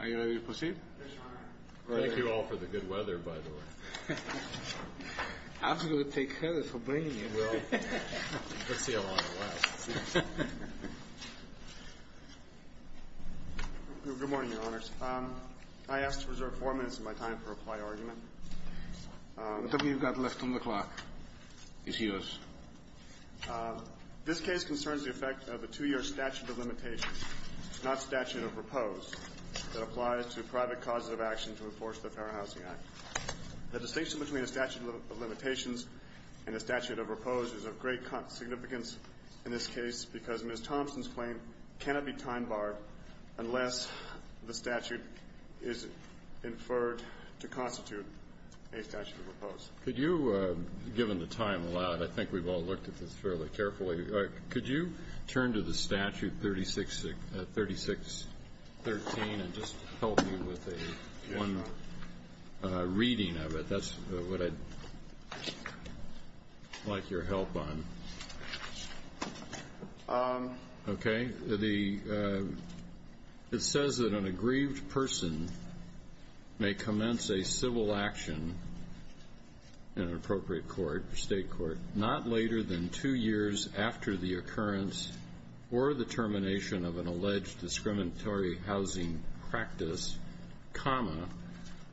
Are you ready to proceed? Yes, Your Honor. Thank you all for the good weather, by the way. I was going to take care of it for bringing you. Well, let's see how long it lasts. Good morning, Your Honors. I ask to reserve four minutes of my time to reply to your argument. Whatever you've got left on the clock is yours. This case concerns the effect of the two-year statute of limitations, not statute of repose, that applies to private causes of action to enforce the Fair Housing Act. The distinction between a statute of limitations and a statute of repose is of great significance in this case because Ms. Thompson's claim cannot be time-barred unless the statute is inferred to constitute a statute of repose. Could you, given the time allowed, I think we've all looked at this fairly carefully, could you turn to the statute 3613 and just help me with one reading of it? That's what I'd like your help on. Okay. It says that an aggrieved person may commence a civil action in an appropriate court, state court, not later than two years after the occurrence or the termination of an alleged discriminatory housing practice, comma,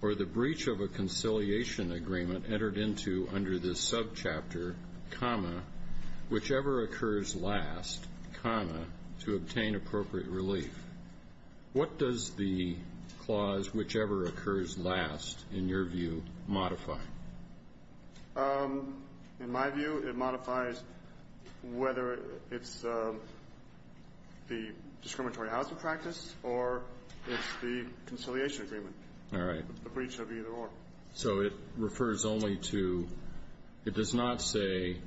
or the breach of a conciliation agreement entered into under this subchapter, comma, whichever occurs last, comma, to obtain appropriate relief. What does the clause, whichever occurs last, in your view, modify? In my view, it modifies whether it's the discriminatory housing practice or it's the conciliation agreement. All right. The breach of either or. So it refers only to, it does not say,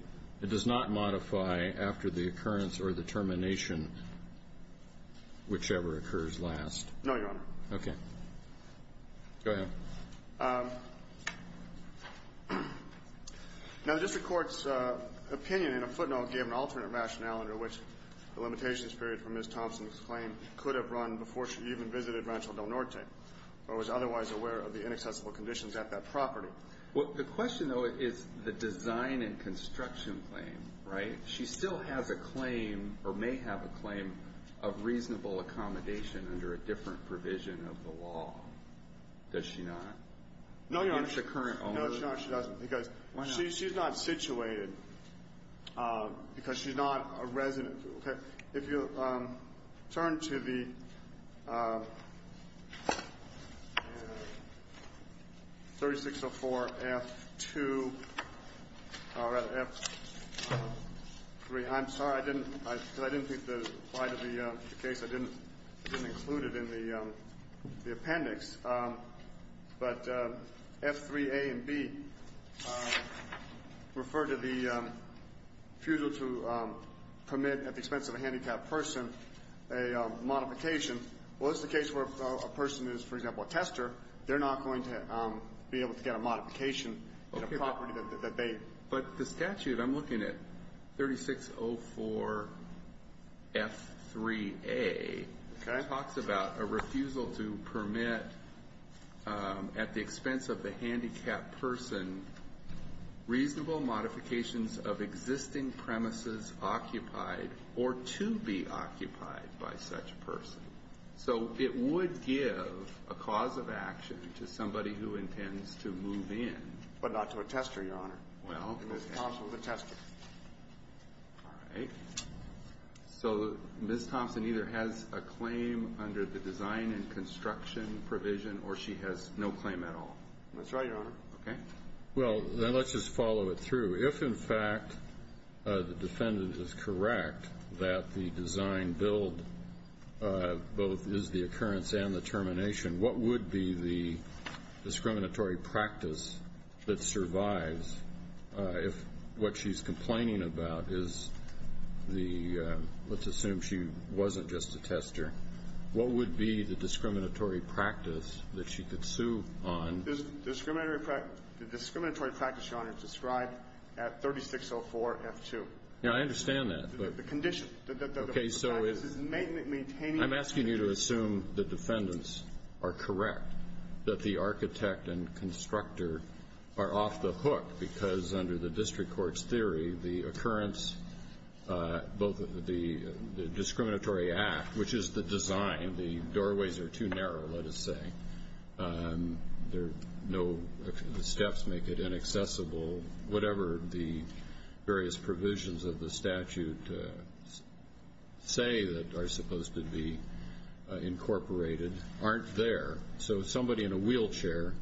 it does not modify after the occurrence or the termination, whichever occurs last. No, Your Honor. Okay. Go ahead. Now, the district court's opinion, in a footnote, gave an alternate rationale under which the limitations period for Ms. Thompson's claim could have run before she even visited Rancho Del Norte or was otherwise aware of the inaccessible conditions at that property. Well, the question, though, is the design and construction claim, right? She still has a claim or may have a claim of reasonable accommodation under a different provision of the law, does she not? No, Your Honor. If you turn to the 3604F2, or rather, F3. I'm sorry. I didn't think the light of the case, I didn't include it in the appendix. But F3A and B refer to the refusal to permit, at the expense of a handicapped person, a modification. Well, this is the case where a person is, for example, a tester. They're not going to be able to get a modification in a property that they. But the statute, I'm looking at 3604F3A talks about a refusal to permit, at the expense of the handicapped person, reasonable modifications of existing premises occupied or to be occupied by such a person. So it would give a cause of action to somebody who intends to move in. But not to a tester, Your Honor. Well. It's possible to test it. All right. So Ms. Thompson either has a claim under the design and construction provision or she has no claim at all? That's right, Your Honor. Okay. Well, then let's just follow it through. If, in fact, the defendant is correct that the design build both is the occurrence and the termination, what would be the discriminatory practice that survives if what she's complaining about is the, let's assume she wasn't just a tester, what would be the discriminatory practice that she could sue on? The discriminatory practice, Your Honor, is described at 3604F2. Yeah, I understand that. The condition. Okay. I'm asking you to assume the defendants are correct, that the architect and constructor are off the hook, because under the district court's theory, the occurrence, both of the discriminatory act, which is the design, the doorways are too narrow, let us say, there are no steps make it inaccessible, whatever the various provisions of the statute say that are supposed to be incorporated aren't there. So somebody in a wheelchair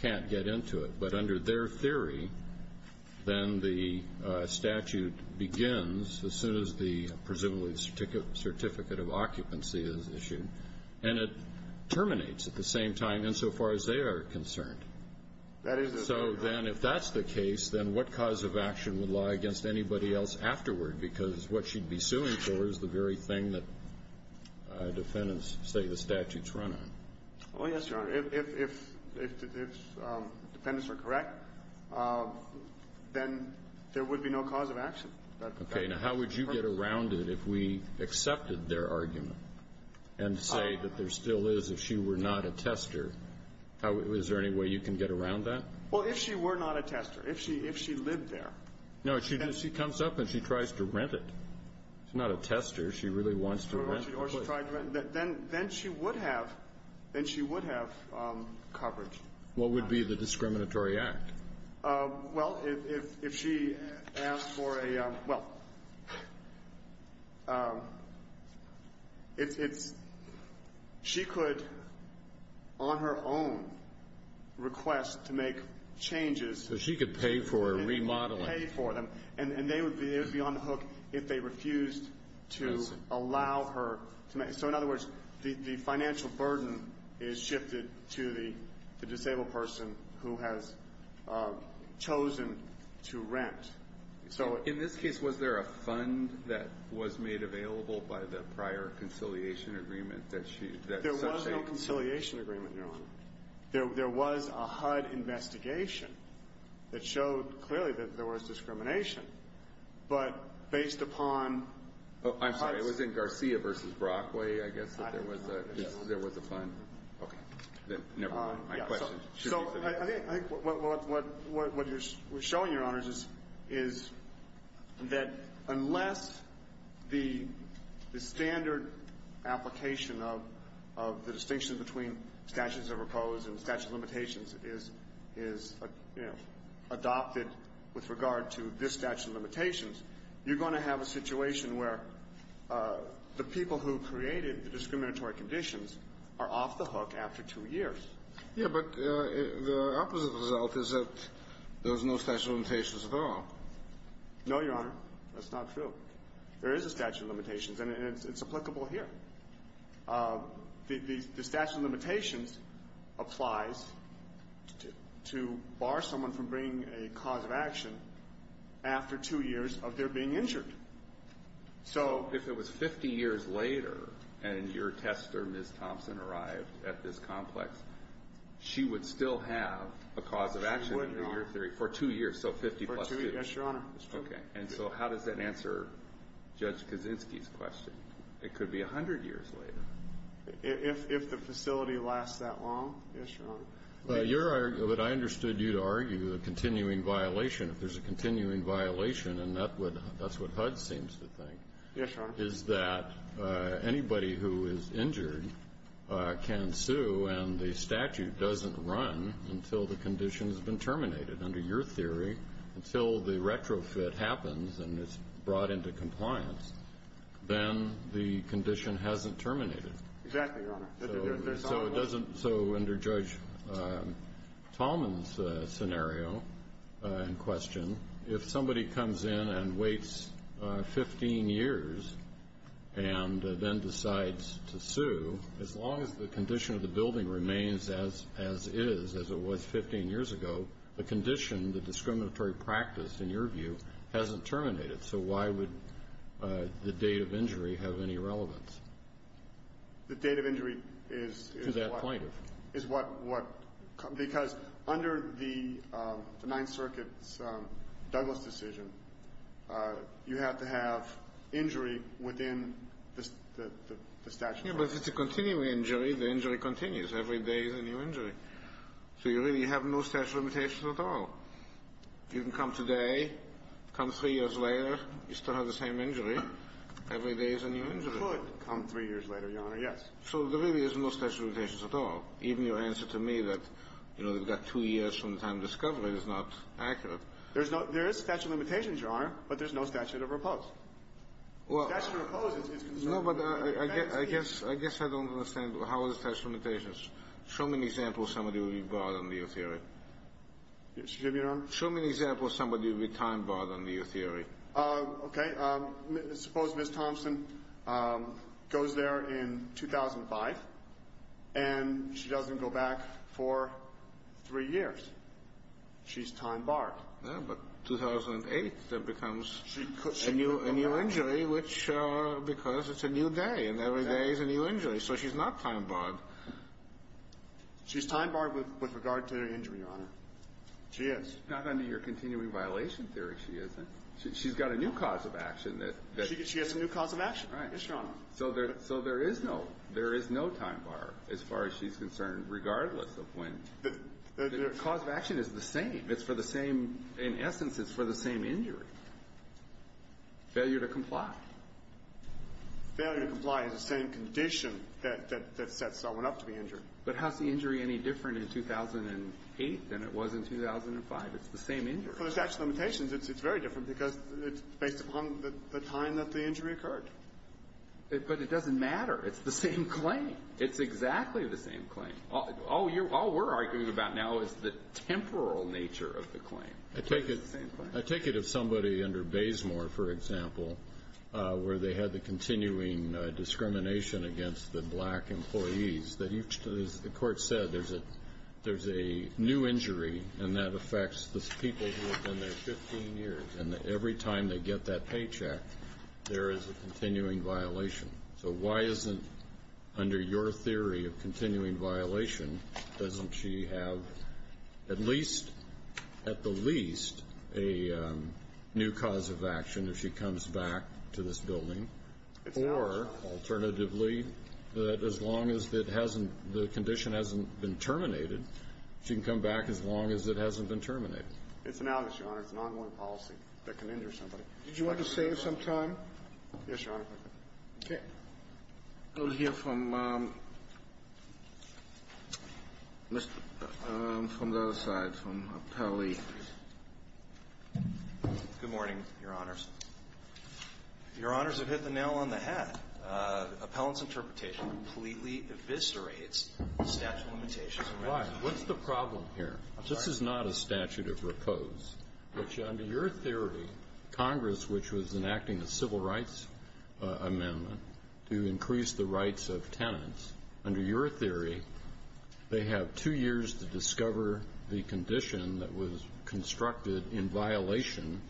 can't get into it. But under their theory, then the statute begins as soon as the presumably certificate of occupancy is issued, and it terminates at the same time, insofar as they are concerned. That is, Your Honor. In that case, then, what cause of action would lie against anybody else afterward? Because what she'd be suing for is the very thing that defendants say the statute's run on. Oh, yes, Your Honor. If defendants are correct, then there would be no cause of action. Okay. Now, how would you get around it if we accepted their argument and say that there still is, if she were not a tester, is there any way you can get around that? Well, if she were not a tester, if she lived there. No, she comes up and she tries to rent it. She's not a tester. She really wants to rent the place. Then she would have coverage. What would be the discriminatory act? Well, if she asked for a, well, it's she could, on her own, request to make changes. So she could pay for a remodeling. Pay for them. And they would be on the hook if they refused to allow her to make. So, in other words, the financial burden is shifted to the disabled person who has chosen to rent. In this case, was there a fund that was made available by the prior conciliation agreement? There was no conciliation agreement, Your Honor. There was a HUD investigation that showed clearly that there was discrimination. But based upon HUD's. Oh, I'm sorry. It was in Garcia v. Brockway, I guess, that there was a fund. Okay. Never mind. My question. So I think what you're showing, Your Honors, is that unless the standard application of the distinction between statutes of repose and statute of limitations is, you know, adopted with regard to this statute of limitations, you're going to have a situation where the people who created the discriminatory conditions are off the hook after two years. Yeah, but the opposite result is that there's no statute of limitations at all. No, Your Honor. That's not true. There is a statute of limitations, and it's applicable here. The statute of limitations applies to bar someone from bringing a cause of action after two years of their being injured. So if it was 50 years later and your tester, Ms. Thompson, arrived at this complex, she would still have a cause of action. She would, Your Honor. For two years. So 50 plus two. Yes, Your Honor. Okay. And so how does that answer Judge Kaczynski's question? It could be 100 years later. If the facility lasts that long. Yes, Your Honor. But I understood you to argue a continuing violation. If there's a continuing violation, and that's what HUD seems to think, is that anybody who is injured can sue, and the statute doesn't run until the condition has been terminated, under your theory, until the retrofit happens and it's brought into compliance, then the condition hasn't terminated. Exactly, Your Honor. So it doesn't so under Judge Tallman's scenario in question, if somebody comes in and waits 15 years and then decides to sue, as long as the condition of the building remains as it is, as it was 15 years ago, the condition, the discriminatory practice, in your view, hasn't terminated. So why would the date of injury have any relevance? The date of injury is what? To that point. Is what? Because under the Ninth Circuit's Douglas decision, you have to have injury within the statute. Yes, but if it's a continuing injury, the injury continues. Every day is a new injury. So you really have no statute of limitations at all. You can come today, come three years later, you still have the same injury. Every day is a new injury. You could come three years later, Your Honor, yes. So there really is no statute of limitations at all. Even your answer to me that, you know, they've got two years from the time of discovery is not accurate. There is statute of limitations, Your Honor, but there's no statute of repose. Well, I guess I don't understand how the statute of limitations. Show me an example of somebody who would be barred under your theory. Excuse me, Your Honor? Show me an example of somebody who would be time-barred under your theory. Okay. Suppose Ms. Thompson goes there in 2005, and she doesn't go back for three years. She's time-barred. Yeah, but 2008 becomes a new injury because it's a new day, and every day is a new injury. So she's not time-barred. She's time-barred with regard to her injury, Your Honor. She is. Not under your continuing violation theory, she isn't. She's got a new cause of action that – She has a new cause of action. Right. Yes, Your Honor. So there is no – there is no time-bar as far as she's concerned, regardless of when – the cause of action is the same. It's for the same – in essence, it's for the same injury. Failure to comply. Failure to comply is the same condition that sets someone up to be injured. But how is the injury any different in 2008 than it was in 2005? It's the same injury. For the statute of limitations, it's very different because it's based upon the time that the injury occurred. But it doesn't matter. It's the same claim. It's exactly the same claim. All we're arguing about now is the temporal nature of the claim. It's the same claim. I take it if somebody under Bazemore, for example, where they had the continuing discrimination against the black employees, that each – as the court said, there's a new injury, and that affects the people who have been there 15 years. And every time they get that paycheck, there is a continuing violation. So why isn't – under your theory of continuing violation, doesn't she have at least – does she have a new cause of action if she comes back to this building? Or, alternatively, that as long as it hasn't – the condition hasn't been terminated, she can come back as long as it hasn't been terminated. It's an outage, Your Honor. It's an ongoing policy that can injure somebody. Did you want to save some time? Yes, Your Honor. Okay. I'll hear from Mr. – from the other side, from Appellee. Good morning, Your Honors. Your Honors have hit the nail on the head. Appellant's interpretation completely eviscerates statute of limitations. Why? What's the problem here? This is not a statute of repose, which under your theory, Congress, which was enacting a civil rights amendment to increase the rights of tenants. Under your theory, they have two years to discover the condition that was constructed in violation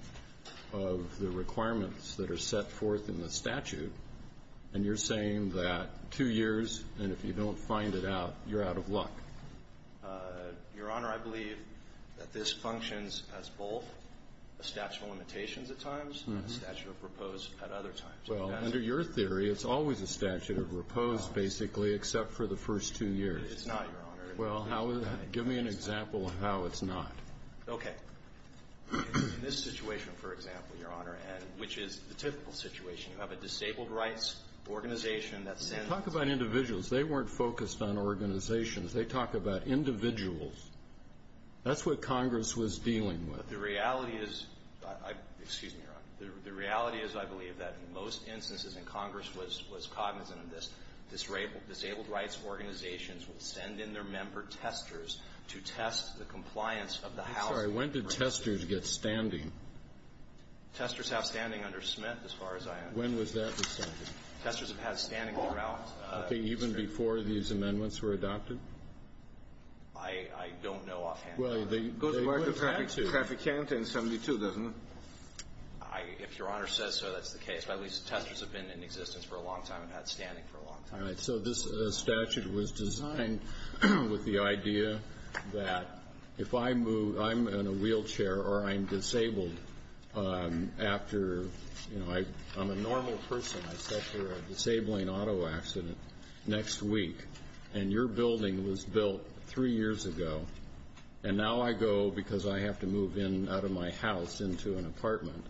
of the requirements that are set forth in the statute, and you're saying that two years, and if you don't find it out, you're out of luck. Your Honor, I believe that this functions as both a statute of limitations at times, and a statute of repose at other times. Well, under your theory, it's always a statute of repose, basically, except for the first two years. It's not, Your Honor. Well, give me an example of how it's not. Okay. In this situation, for example, Your Honor, which is the typical situation, you have a disabled rights organization that sends – Talk about individuals. They weren't focused on organizations. They talk about individuals. That's what Congress was dealing with. But the reality is – excuse me, Your Honor. The reality is, I believe, that in most instances, and Congress was cognizant of this, disabled rights organizations would send in their member testers to test the compliance of the housing. I'm sorry. When did testers get standing? Testers have standing under Smith, as far as I understand. When was that decided? Testers have had standing throughout. Okay. Even before these amendments were adopted? I don't know offhand. Well, they would have had to. Traffic can't in 72, doesn't it? If Your Honor says so, that's the case. But at least testers have been in existence for a long time and had standing for a long time. All right. So this statute was designed with the idea that if I move – I'm in a wheelchair or I'm disabled after – I'm a normal person. I set for a disabling auto accident next week. And your building was built three years ago. And now I go because I have to move in out of my house into an apartment.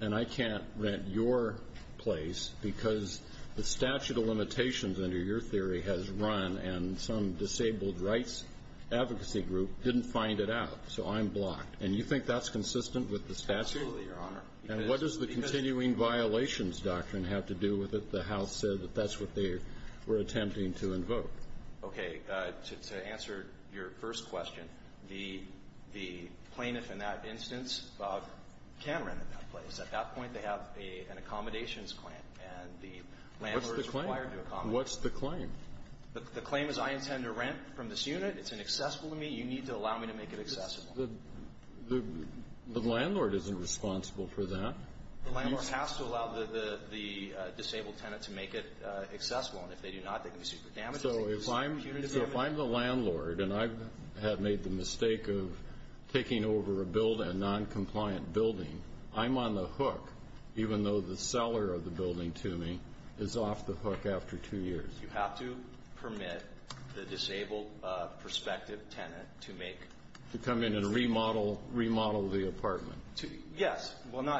And I can't rent your place because the statute of limitations under your theory has run and some disabled rights advocacy group didn't find it out. So I'm blocked. And you think that's consistent with the statute? Absolutely, Your Honor. And what does the continuing violations doctrine have to do with it? The House said that that's what they were attempting to invoke. Okay. To answer your first question, the plaintiff in that instance can rent that place. At that point, they have an accommodations claim. And the landlord is required to accommodate. What's the claim? The claim is I intend to rent from this unit. It's inaccessible to me. You need to allow me to make it accessible. The landlord isn't responsible for that. The landlord has to allow the disabled tenant to make it accessible. And if they do not, they can be sued for damages. So if I'm the landlord and I have made the mistake of taking over a noncompliant building, I'm on the hook even though the seller of the building to me is off the hook after two years. You have to permit the disabled prospective tenant to make it accessible. To come in and remodel the apartment. Yes.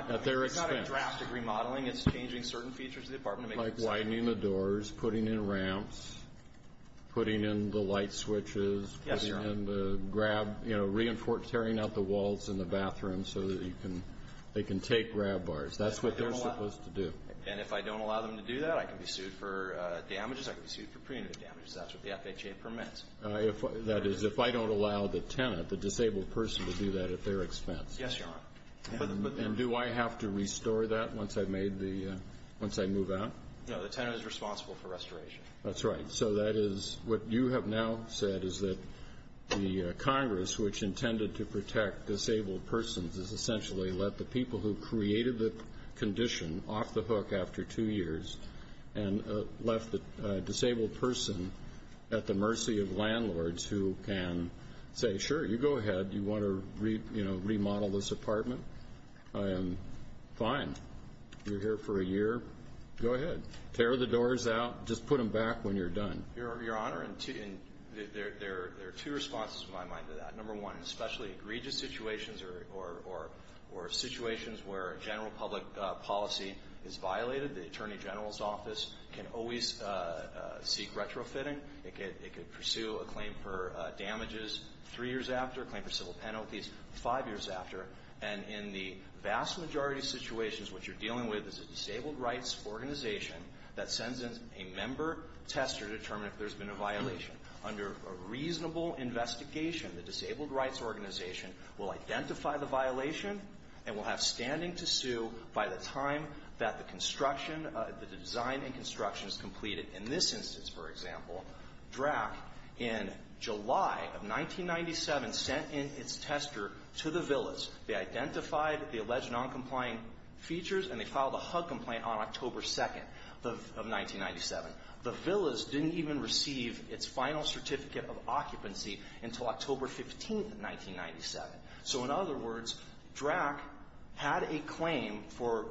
At their expense. It's not a draft of remodeling. It's changing certain features of the apartment. Like widening the doors, putting in ramps, putting in the light switches. Yes, Your Honor. And the grab, you know, tearing out the walls in the bathroom so that they can take grab bars. That's what they're supposed to do. And if I don't allow them to do that, I can be sued for damages. I can be sued for preemptive damages. That's what the FHA permits. That is, if I don't allow the tenant, the disabled person, to do that at their expense. Yes, Your Honor. And do I have to restore that once I move out? No, the tenant is responsible for restoration. That's right. So that is what you have now said is that the Congress, which intended to protect disabled persons, has essentially let the people who created the condition off the hook after two years and left the disabled person at the mercy of landlords who can say, Sure, you go ahead. You want to remodel this apartment? Fine. You're here for a year. Go ahead. Tear the doors out. Just put them back when you're done. Your Honor, there are two responses to my mind to that. Number one, especially egregious situations or situations where general public policy is violated, the Attorney General's office can always seek retrofitting. It could pursue a claim for damages. Three years after, a claim for civil penalties. Five years after. And in the vast majority of situations, what you're dealing with is a disabled rights organization that sends in a member tester to determine if there's been a violation. Under a reasonable investigation, the disabled rights organization will identify the violation and will have standing to sue by the time that the construction, the design and construction is completed. In this instance, for example, DRAC in July of 1997 sent in its tester to the Villas. They identified the alleged noncompliant features, and they filed a HUD complaint on October 2nd of 1997. The Villas didn't even receive its final certificate of occupancy until October 15th, 1997. So in other words, DRAC had a claim for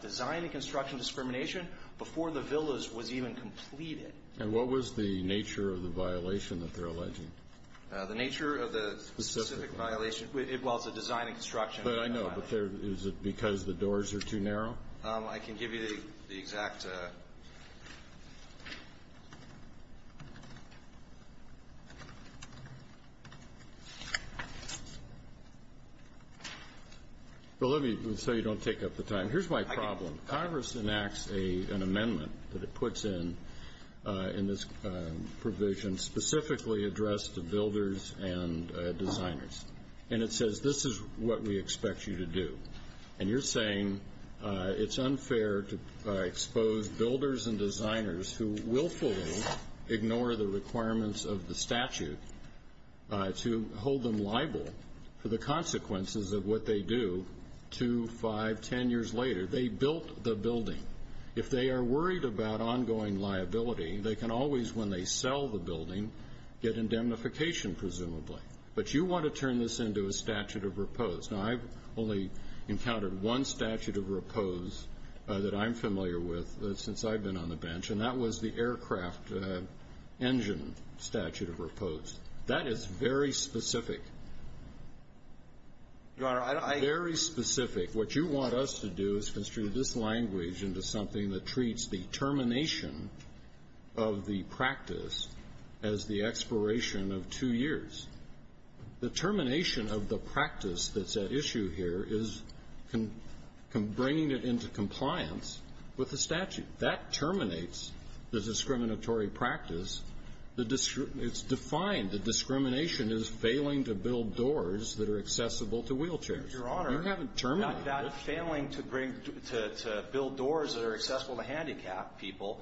design and construction discrimination before the Villas was even completed. And what was the nature of the violation that they're alleging? The nature of the specific violation, well, it's a design and construction. But I know, but is it because the doors are too narrow? I can give you the exact. Well, let me, so you don't take up the time. Here's my problem. Congress enacts an amendment that it puts in, in this provision, specifically addressed to builders and designers. And it says, this is what we expect you to do. And you're saying it's unfair to expose builders and designers who willfully ignore the requirements of the statute to hold them liable for the consequences of what they do 2, 5, 10 years later. They built the building. If they are worried about ongoing liability, they can always, when they sell the building, get indemnification, presumably. But you want to turn this into a statute of repose. Now, I've only encountered one statute of repose that I'm familiar with since I've been on the bench, and that was the aircraft engine statute of repose. That is very specific. Your Honor, I don't think. Very specific. What you want us to do is construe this language into something that treats the termination of the practice as the expiration of two years. The termination of the practice that's at issue here is bringing it into compliance with the statute. That terminates the discriminatory practice. It's defined. The discrimination is failing to build doors that are accessible to wheelchairs. Your Honor. You haven't terminated it. That failing to build doors that are accessible to handicapped people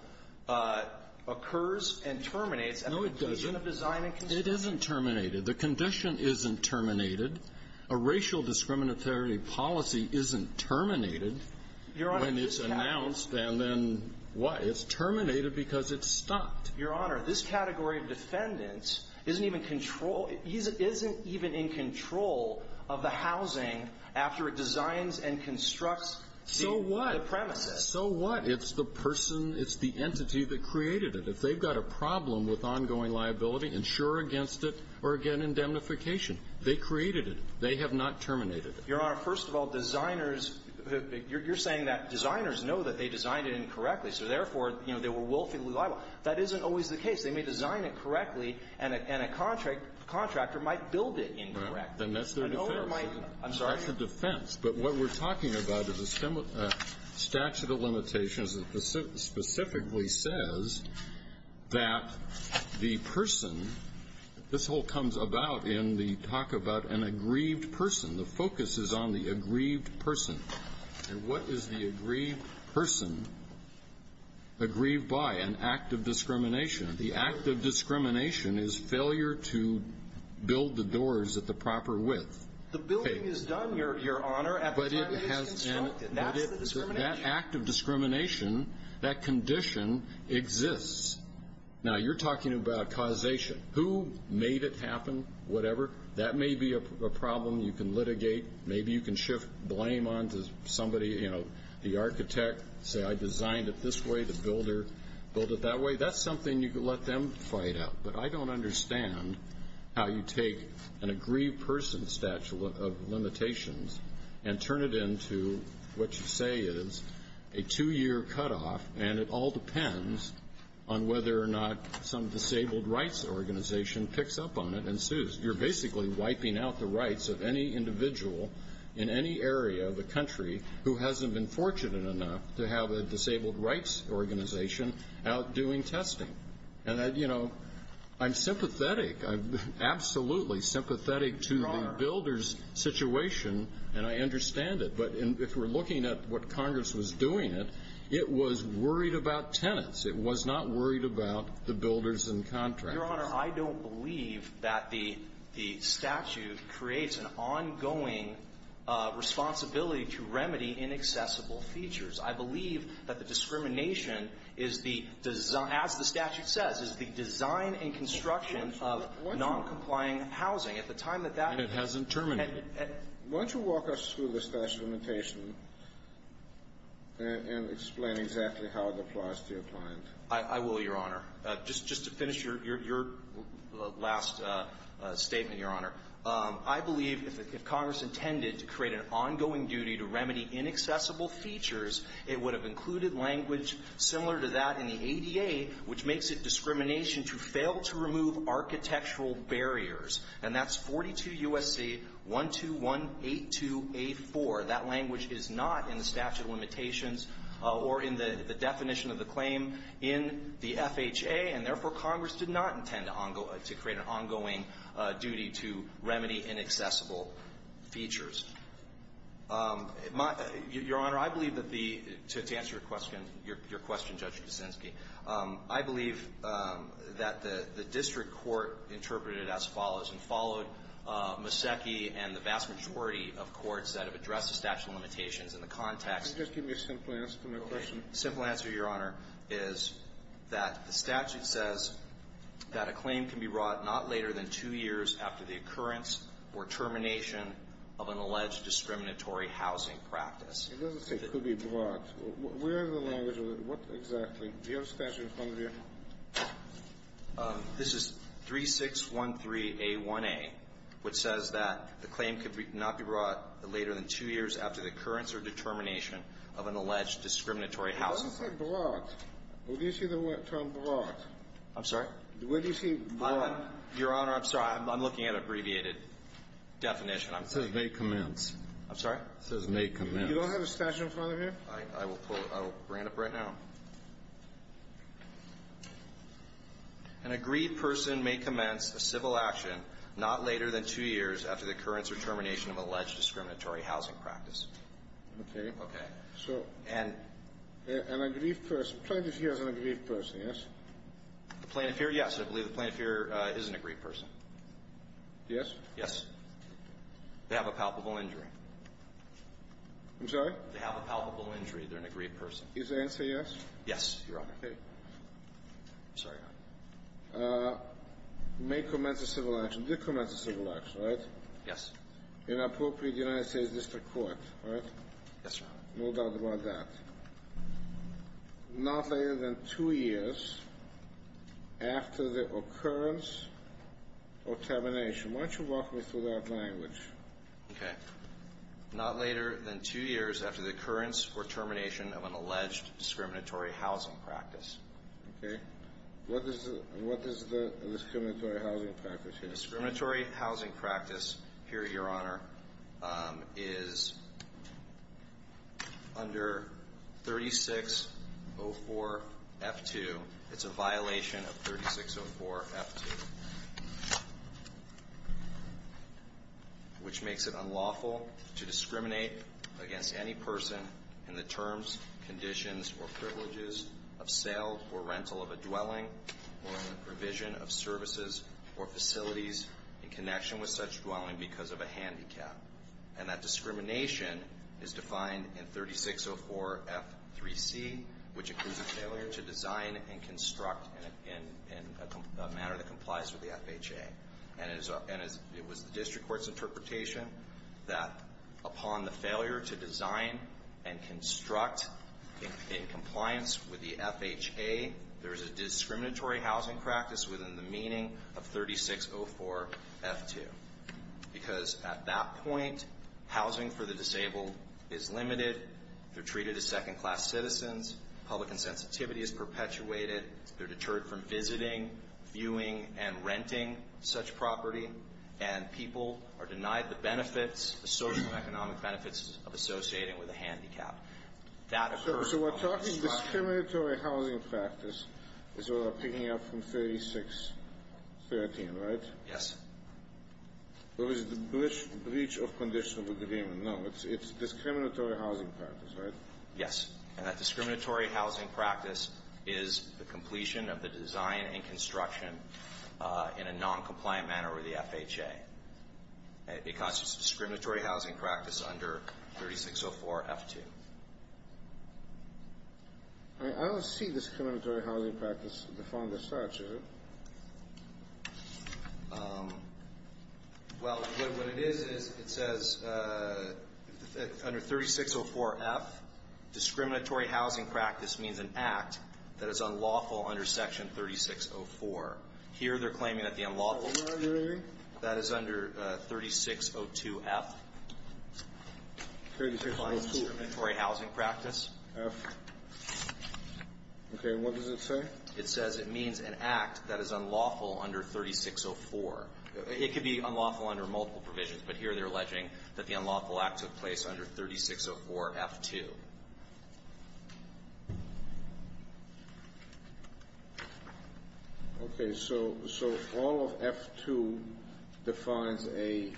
occurs and terminates. No, it doesn't. It isn't terminated. The condition isn't terminated. A racial discriminatory policy isn't terminated when it's announced and then what? It's terminated because it's stopped. Your Honor, this category of defendants isn't even control of the housing after it designs and constructs the premises. So what? So what? It's the person, it's the entity that created it. If they've got a problem with ongoing liability, insure against it or again indemnification. They created it. They have not terminated it. Your Honor, first of all, designers, you're saying that designers know that they designed it incorrectly, so therefore, you know, they were willfully liable. That isn't always the case. They may design it correctly and a contractor might build it incorrectly. Right. Then that's their defense. I'm sorry? That's their defense. But what we're talking about is a statute of limitations that specifically says that the person, this whole comes about in the talk about an aggrieved person. The focus is on the aggrieved person. And what is the aggrieved person aggrieved by? An act of discrimination. The act of discrimination is failure to build the doors at the proper width. The building is done, Your Honor, at the time it is constructed. That's the discrimination. That act of discrimination, that condition exists. Now, you're talking about causation. Who made it happen, whatever? That may be a problem you can litigate. Maybe you can shift blame onto somebody, you know, the architect. Say I designed it this way, the builder built it that way. That's something you can let them fight out. But I don't understand how you take an aggrieved person statute of limitations and turn it into what you say is a two-year cutoff, and it all depends on whether or not some disabled rights organization picks up on it and sues. You're basically wiping out the rights of any individual in any area of the country who hasn't been fortunate enough to have a disabled rights organization out doing testing. And, you know, I'm sympathetic. I'm absolutely sympathetic to the builder's situation, and I understand it. But if we're looking at what Congress was doing, it was worried about tenants. It was not worried about the builders and contractors. Your Honor, I don't believe that the statute creates an ongoing responsibility to remedy inaccessible features. I believe that the discrimination is the design, as the statute says, is the design and construction of noncomplying housing. At the time that that — And it hasn't terminated. Why don't you walk us through the statute of limitations and explain exactly how it applies to your client. I will, Your Honor. Just to finish your last statement, Your Honor, I believe if Congress intended to create an ongoing duty to remedy inaccessible features, it would have included language similar to that in the ADA, which makes it discrimination to fail to remove architectural barriers. And that's 42 U.S.C. 12182A4. That language is not in the statute of limitations or in the definition of the claim in the FHA. And therefore, Congress did not intend to create an ongoing duty to remedy inaccessible features. Your Honor, I believe that the — to answer your question, Judge Kuczynski, I believe that the district court interpreted it as follows and followed Maseki and the vast majority of courts that have addressed the statute of limitations in the context — Just give me a simple answer to my question. The simple answer, Your Honor, is that the statute says that a claim can be brought not later than two years after the occurrence or termination of an alleged discriminatory housing practice. It doesn't say could be brought. Where is the language? What exactly? Do you have the statute in front of you? This is 3613A1A, which says that the claim could not be brought later than two years after the occurrence or determination of an alleged discriminatory housing practice. It doesn't say brought. Where do you see the term brought? I'm sorry? Where do you see brought? Your Honor, I'm sorry. I'm looking at an abbreviated definition. It says may commence. I'm sorry? It says may commence. You don't have the statute in front of you? I will pull it. I will bring it up right now. An agreed person may commence a civil action not later than two years after the occurrence or termination of an alleged discriminatory housing practice. Okay. Okay. So an aggrieved person, plaintiff here is an aggrieved person, yes? The plaintiff here, yes. I believe the plaintiff here is an aggrieved person. Yes? Yes. They have a palpable injury. I'm sorry? They have a palpable injury. They're an aggrieved person. Is the answer yes? Yes, Your Honor. Okay. I'm sorry, Your Honor. May commence a civil action. Did commence a civil action, right? Yes. Inappropriate United States District Court, right? Yes, Your Honor. No doubt about that. Not later than two years after the occurrence or termination. Why don't you walk me through that language? Okay. Not later than two years after the occurrence or termination of an alleged discriminatory housing practice. Okay. What is the discriminatory housing practice here? The discriminatory housing practice here, Your Honor, is under 3604F2. It's a violation of 3604F2, which makes it unlawful to discriminate against any person in the terms, conditions, or privileges of sale or rental of a dwelling or in the provision of services or facilities in connection with such dwelling because of a handicap. And that discrimination is defined in 3604F3C, which includes a failure to design and construct in a manner that complies with the FHA. And it was the district court's interpretation that upon the failure to design and construct in compliance with the FHA, there is a discriminatory housing practice within the meaning of 3604F2 because at that point, housing for the disabled is limited, they're treated as second-class citizens, public insensitivity is perpetuated, they're deterred from visiting, viewing, and renting such property, and people are denied the benefits, the social and economic benefits of associating with a handicap. So we're talking discriminatory housing practice is what we're picking up from 3604F13, right? Yes. What is the breach of conditional agreement? No, it's discriminatory housing practice, right? Yes, and that discriminatory housing practice is the completion of the design and construction in a noncompliant manner with the FHA because it's discriminatory housing practice under 3604F2. I don't see discriminatory housing practice defined as such, is it? Well, what it is is it says under 3604F, discriminatory housing practice means an act that is unlawful under Section 3604. Here they're claiming that the unlawful act that is under 3602F defines discriminatory housing practice. Okay. And what does it say? It says it means an act that is unlawful under 3604. It could be unlawful under multiple provisions, but here they're alleging that the unlawful act took place under 3604F2. Okay. So all of F2 defines a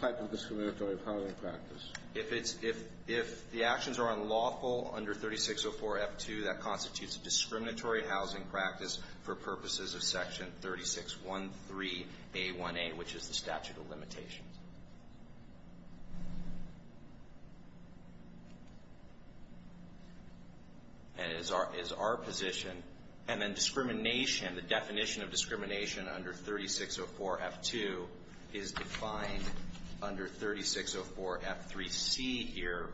type of discriminatory housing practice? If it's – if the actions are unlawful under 3604F2, that constitutes a discriminatory housing practice for purposes of Section 3613A1A, which is the statute of limitations. And it is our position. And then discrimination, the definition of discrimination under 3604F2 is defined under 3604F3C here,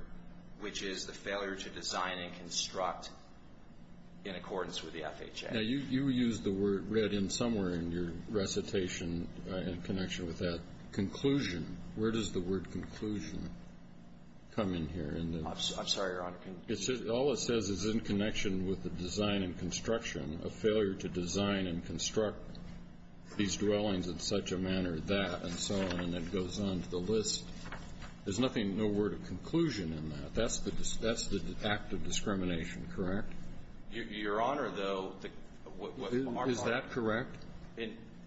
which is the failure to design and construct in accordance with the FHA. Now, you used the word read in somewhere in your recitation in connection with that, conclusion. Where does the word conclusion come in here? I'm sorry, Your Honor. All it says is in connection with the design and construction, a failure to design and construct these dwellings in such a manner that, and so on, and it goes on to the list. There's nothing, no word of conclusion in that. That's the act of discrimination, correct? Your Honor, though, the – Is that correct?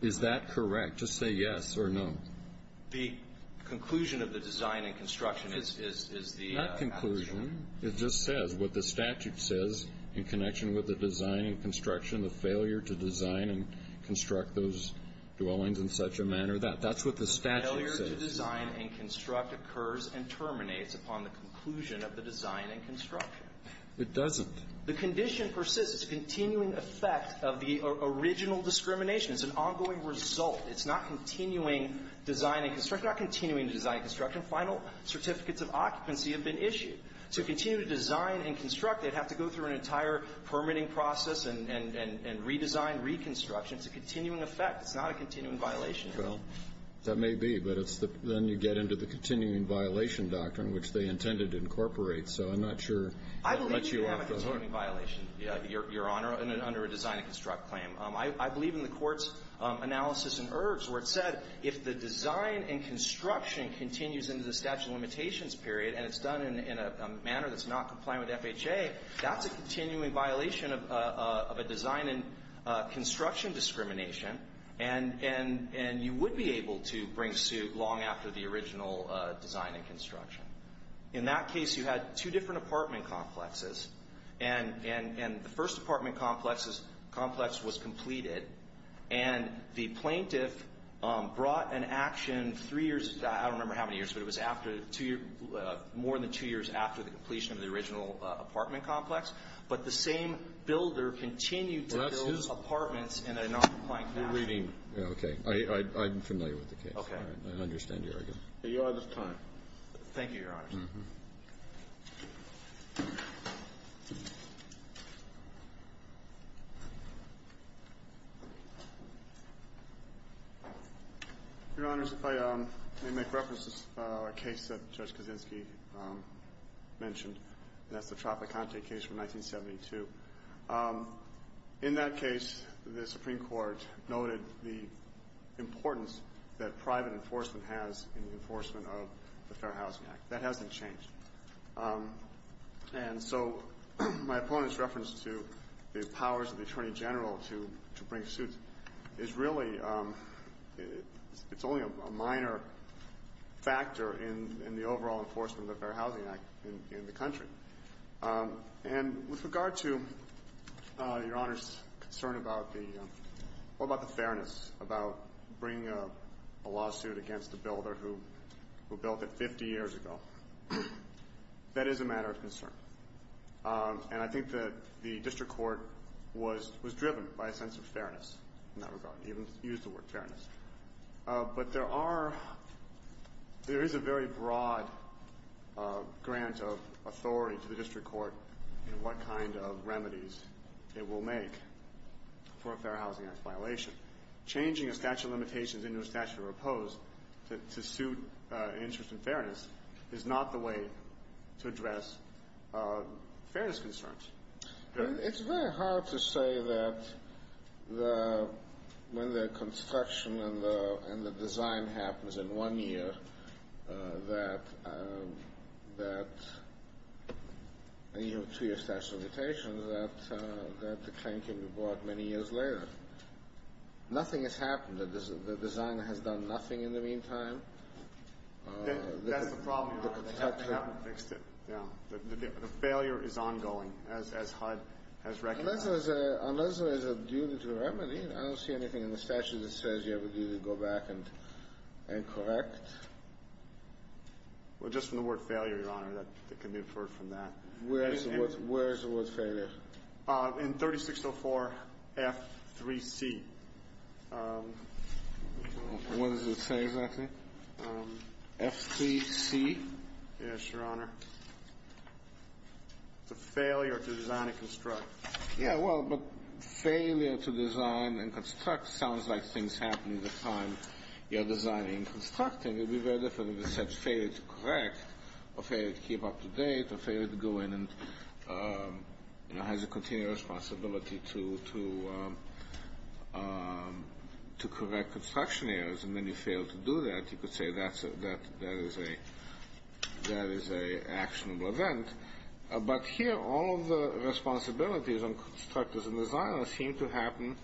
Is that correct to say yes or no? The conclusion of the design and construction is the action. Not conclusion. It just says what the statute says in connection with the design and construction, the failure to design and construct those dwellings in such a manner that. That's what the statute says. The failure to design and construct occurs and terminates upon the conclusion of the design and construction. It doesn't. The condition persists. It's a continuing effect of the original discrimination. It's an ongoing result. It's not continuing design and construction. It's not continuing design and construction. Final certificates of occupancy have been issued. To continue to design and construct, they'd have to go through an entire permitting process and redesign, reconstruction. It's a continuing effect. It's not a continuing violation. Well, that may be, but it's the – then you get into the continuing violation doctrine, which they intended to incorporate. So I'm not sure. I believe you have a continuing violation, Your Honor, under a design and construct claim. I believe in the court's analysis in Ergs where it said if the design and construction continues into the statute of limitations period and it's done in a manner that's not compliant with FHA, that's a continuing violation of a design and construction discrimination, and you would be able to bring suit long after the original design and construction. In that case, you had two different apartment complexes, and the first apartment complex was completed, and the plaintiff brought an action three years – I don't remember how many years, but it was after two – more than two years after the completion of the original apartment complex, but the same builder continued to build apartments in a non-compliant fashion. We're reading. Okay. I'm familiar with the case. Okay. I understand your argument. Your Honor's time. Thank you, Your Honor. Your Honor, if I may make reference to a case that Judge Kaczynski mentioned, and that's the Tropicante case from 1972. In that case, the Supreme Court noted the importance that private enforcement has in the enforcement of the Fair Housing Act. That hasn't changed. And so my opponent's reference to the powers of the Attorney General to bring suits is really – it's only a minor factor in the overall enforcement of the Fair Housing Act in the country. And with regard to Your Honor's concern about the – well, about the fairness, about bringing a lawsuit against a builder who built it 50 years ago, that is a matter of concern. And I think that the district court was driven by a sense of fairness in that regard, even used the word fairness. But there are – there is a very broad grant of authority to the district court in what kind of remedies it will make for a Fair Housing Act violation. Changing a statute of limitations into a statute of repose to suit an interest in fairness is not the way to address fairness concerns. It's very hard to say that when the construction and the design happens in one year that – to your statute of limitations that the claim can be brought many years later. Nothing has happened. The design has done nothing in the meantime. That's the problem, Your Honor. They haven't fixed it. The failure is ongoing, as HUD has recognized. Unless there is a duty to remedy, I don't see anything in the statute that says you need to go back and correct. Well, just from the word failure, Your Honor, that can be inferred from that. Where is the word failure? In 3604 F3C. What does it say exactly? F3C? It's a failure to design and construct. Yeah, well, but failure to design and construct sounds like things happening the time you're designing and constructing. It would be very different if it said failure to correct or failure to keep up to date or failure to go in and has a continuous responsibility to correct construction errors and then you fail to do that. You could say that is an actionable event. But here all of the responsibilities on constructors and designers seem to happen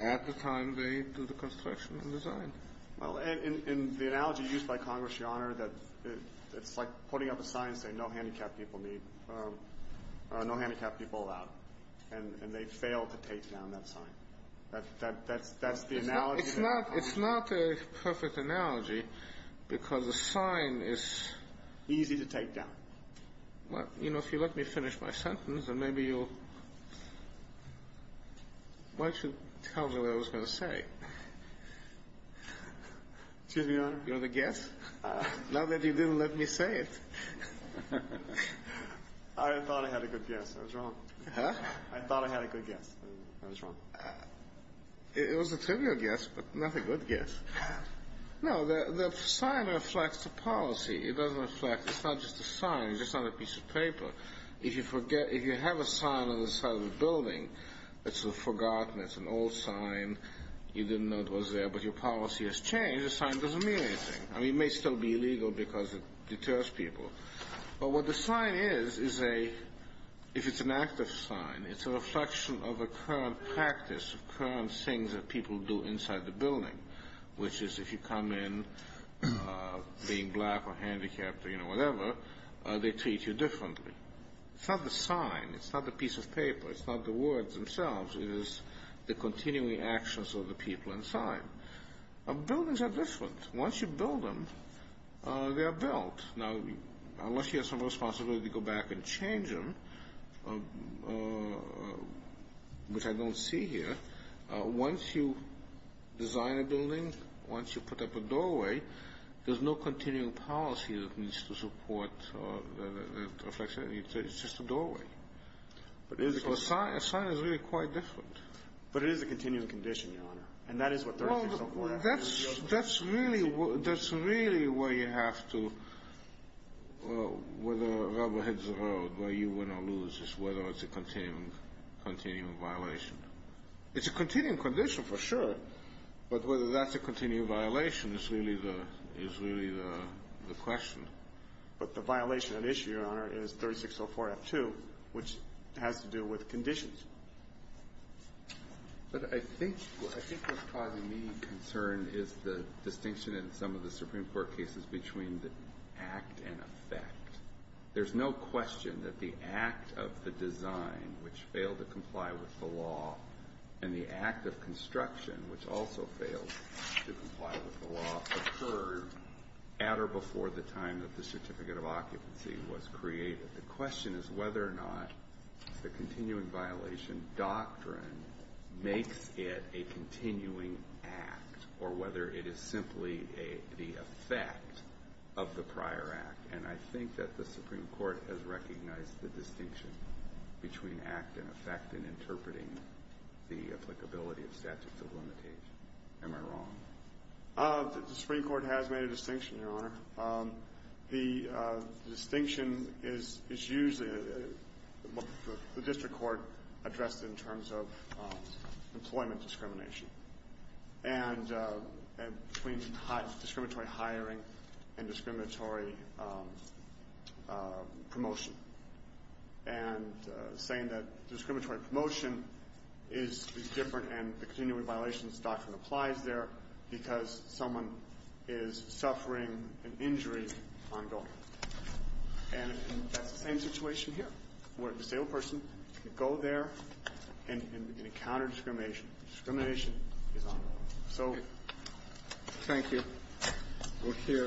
at the time they do the construction and design. Well, and the analogy used by Congress, Your Honor, that it's like putting up a sign saying no handicapped people need, no handicapped people allowed, and they fail to take down that sign. That's the analogy? It's not a perfect analogy because the sign is easy to take down. Well, you know, if you let me finish my sentence, then maybe you'll why don't you tell me what I was going to say? Excuse me, Your Honor? You're the guest? Not that you didn't let me say it. I thought I had a good guess. I was wrong. Huh? I thought I had a good guess. I was wrong. It was a trivial guess, but not a good guess. No, the sign reflects the policy. It doesn't reflect. It's not just a sign. It's just not a piece of paper. If you have a sign on the side of a building that's forgotten, it's an old sign, you didn't know it was there, but your policy has changed, the sign doesn't mean anything. I mean, it may still be illegal because it deters people. But what the sign is, if it's an active sign, it's a reflection of a current practice, of current things that people do inside the building, which is if you come in being black or handicapped or, you know, whatever, they treat you differently. It's not the sign. It's not the piece of paper. It's not the words themselves. It is the continuing actions of the people inside. Buildings are different. Once you build them, they are built. Now, unless you have some responsibility to go back and change them, which I don't see here, once you design a building, once you put up a doorway, there's no continuing policy that needs to support a reflection. It's just a doorway. So a sign is really quite different. But it is a continuing condition, Your Honor, and that is what 3604 asks. That's really where you have to, where the rubber hits the road, where you win or lose is whether it's a continuing violation. It's a continuing condition for sure, but whether that's a continuing violation is really the question. But the violation at issue, Your Honor, is 3604F2, which has to do with conditions. But I think what's causing me concern is the distinction in some of the Supreme Court cases between the act and effect. There's no question that the act of the design, which failed to comply with the law, and the act of construction, which also failed to comply with the law, occurred at or before the time that the certificate of occupancy was created. The question is whether or not the continuing violation doctrine makes it a continuing act or whether it is simply the effect of the prior act. And I think that the Supreme Court has recognized the distinction between act and effect in interpreting the applicability of statutes of limitation. Am I wrong? The Supreme Court has made a distinction, Your Honor. The distinction is usually what the district court addressed in terms of employment discrimination and between discriminatory hiring and discriminatory promotion and saying that discriminatory promotion is different and the continuing violations doctrine applies there because someone is suffering an injury ongoing. And that's the same situation here, where a disabled person can go there and encounter discrimination. Discrimination is ongoing. So... Thank you. We'll hear...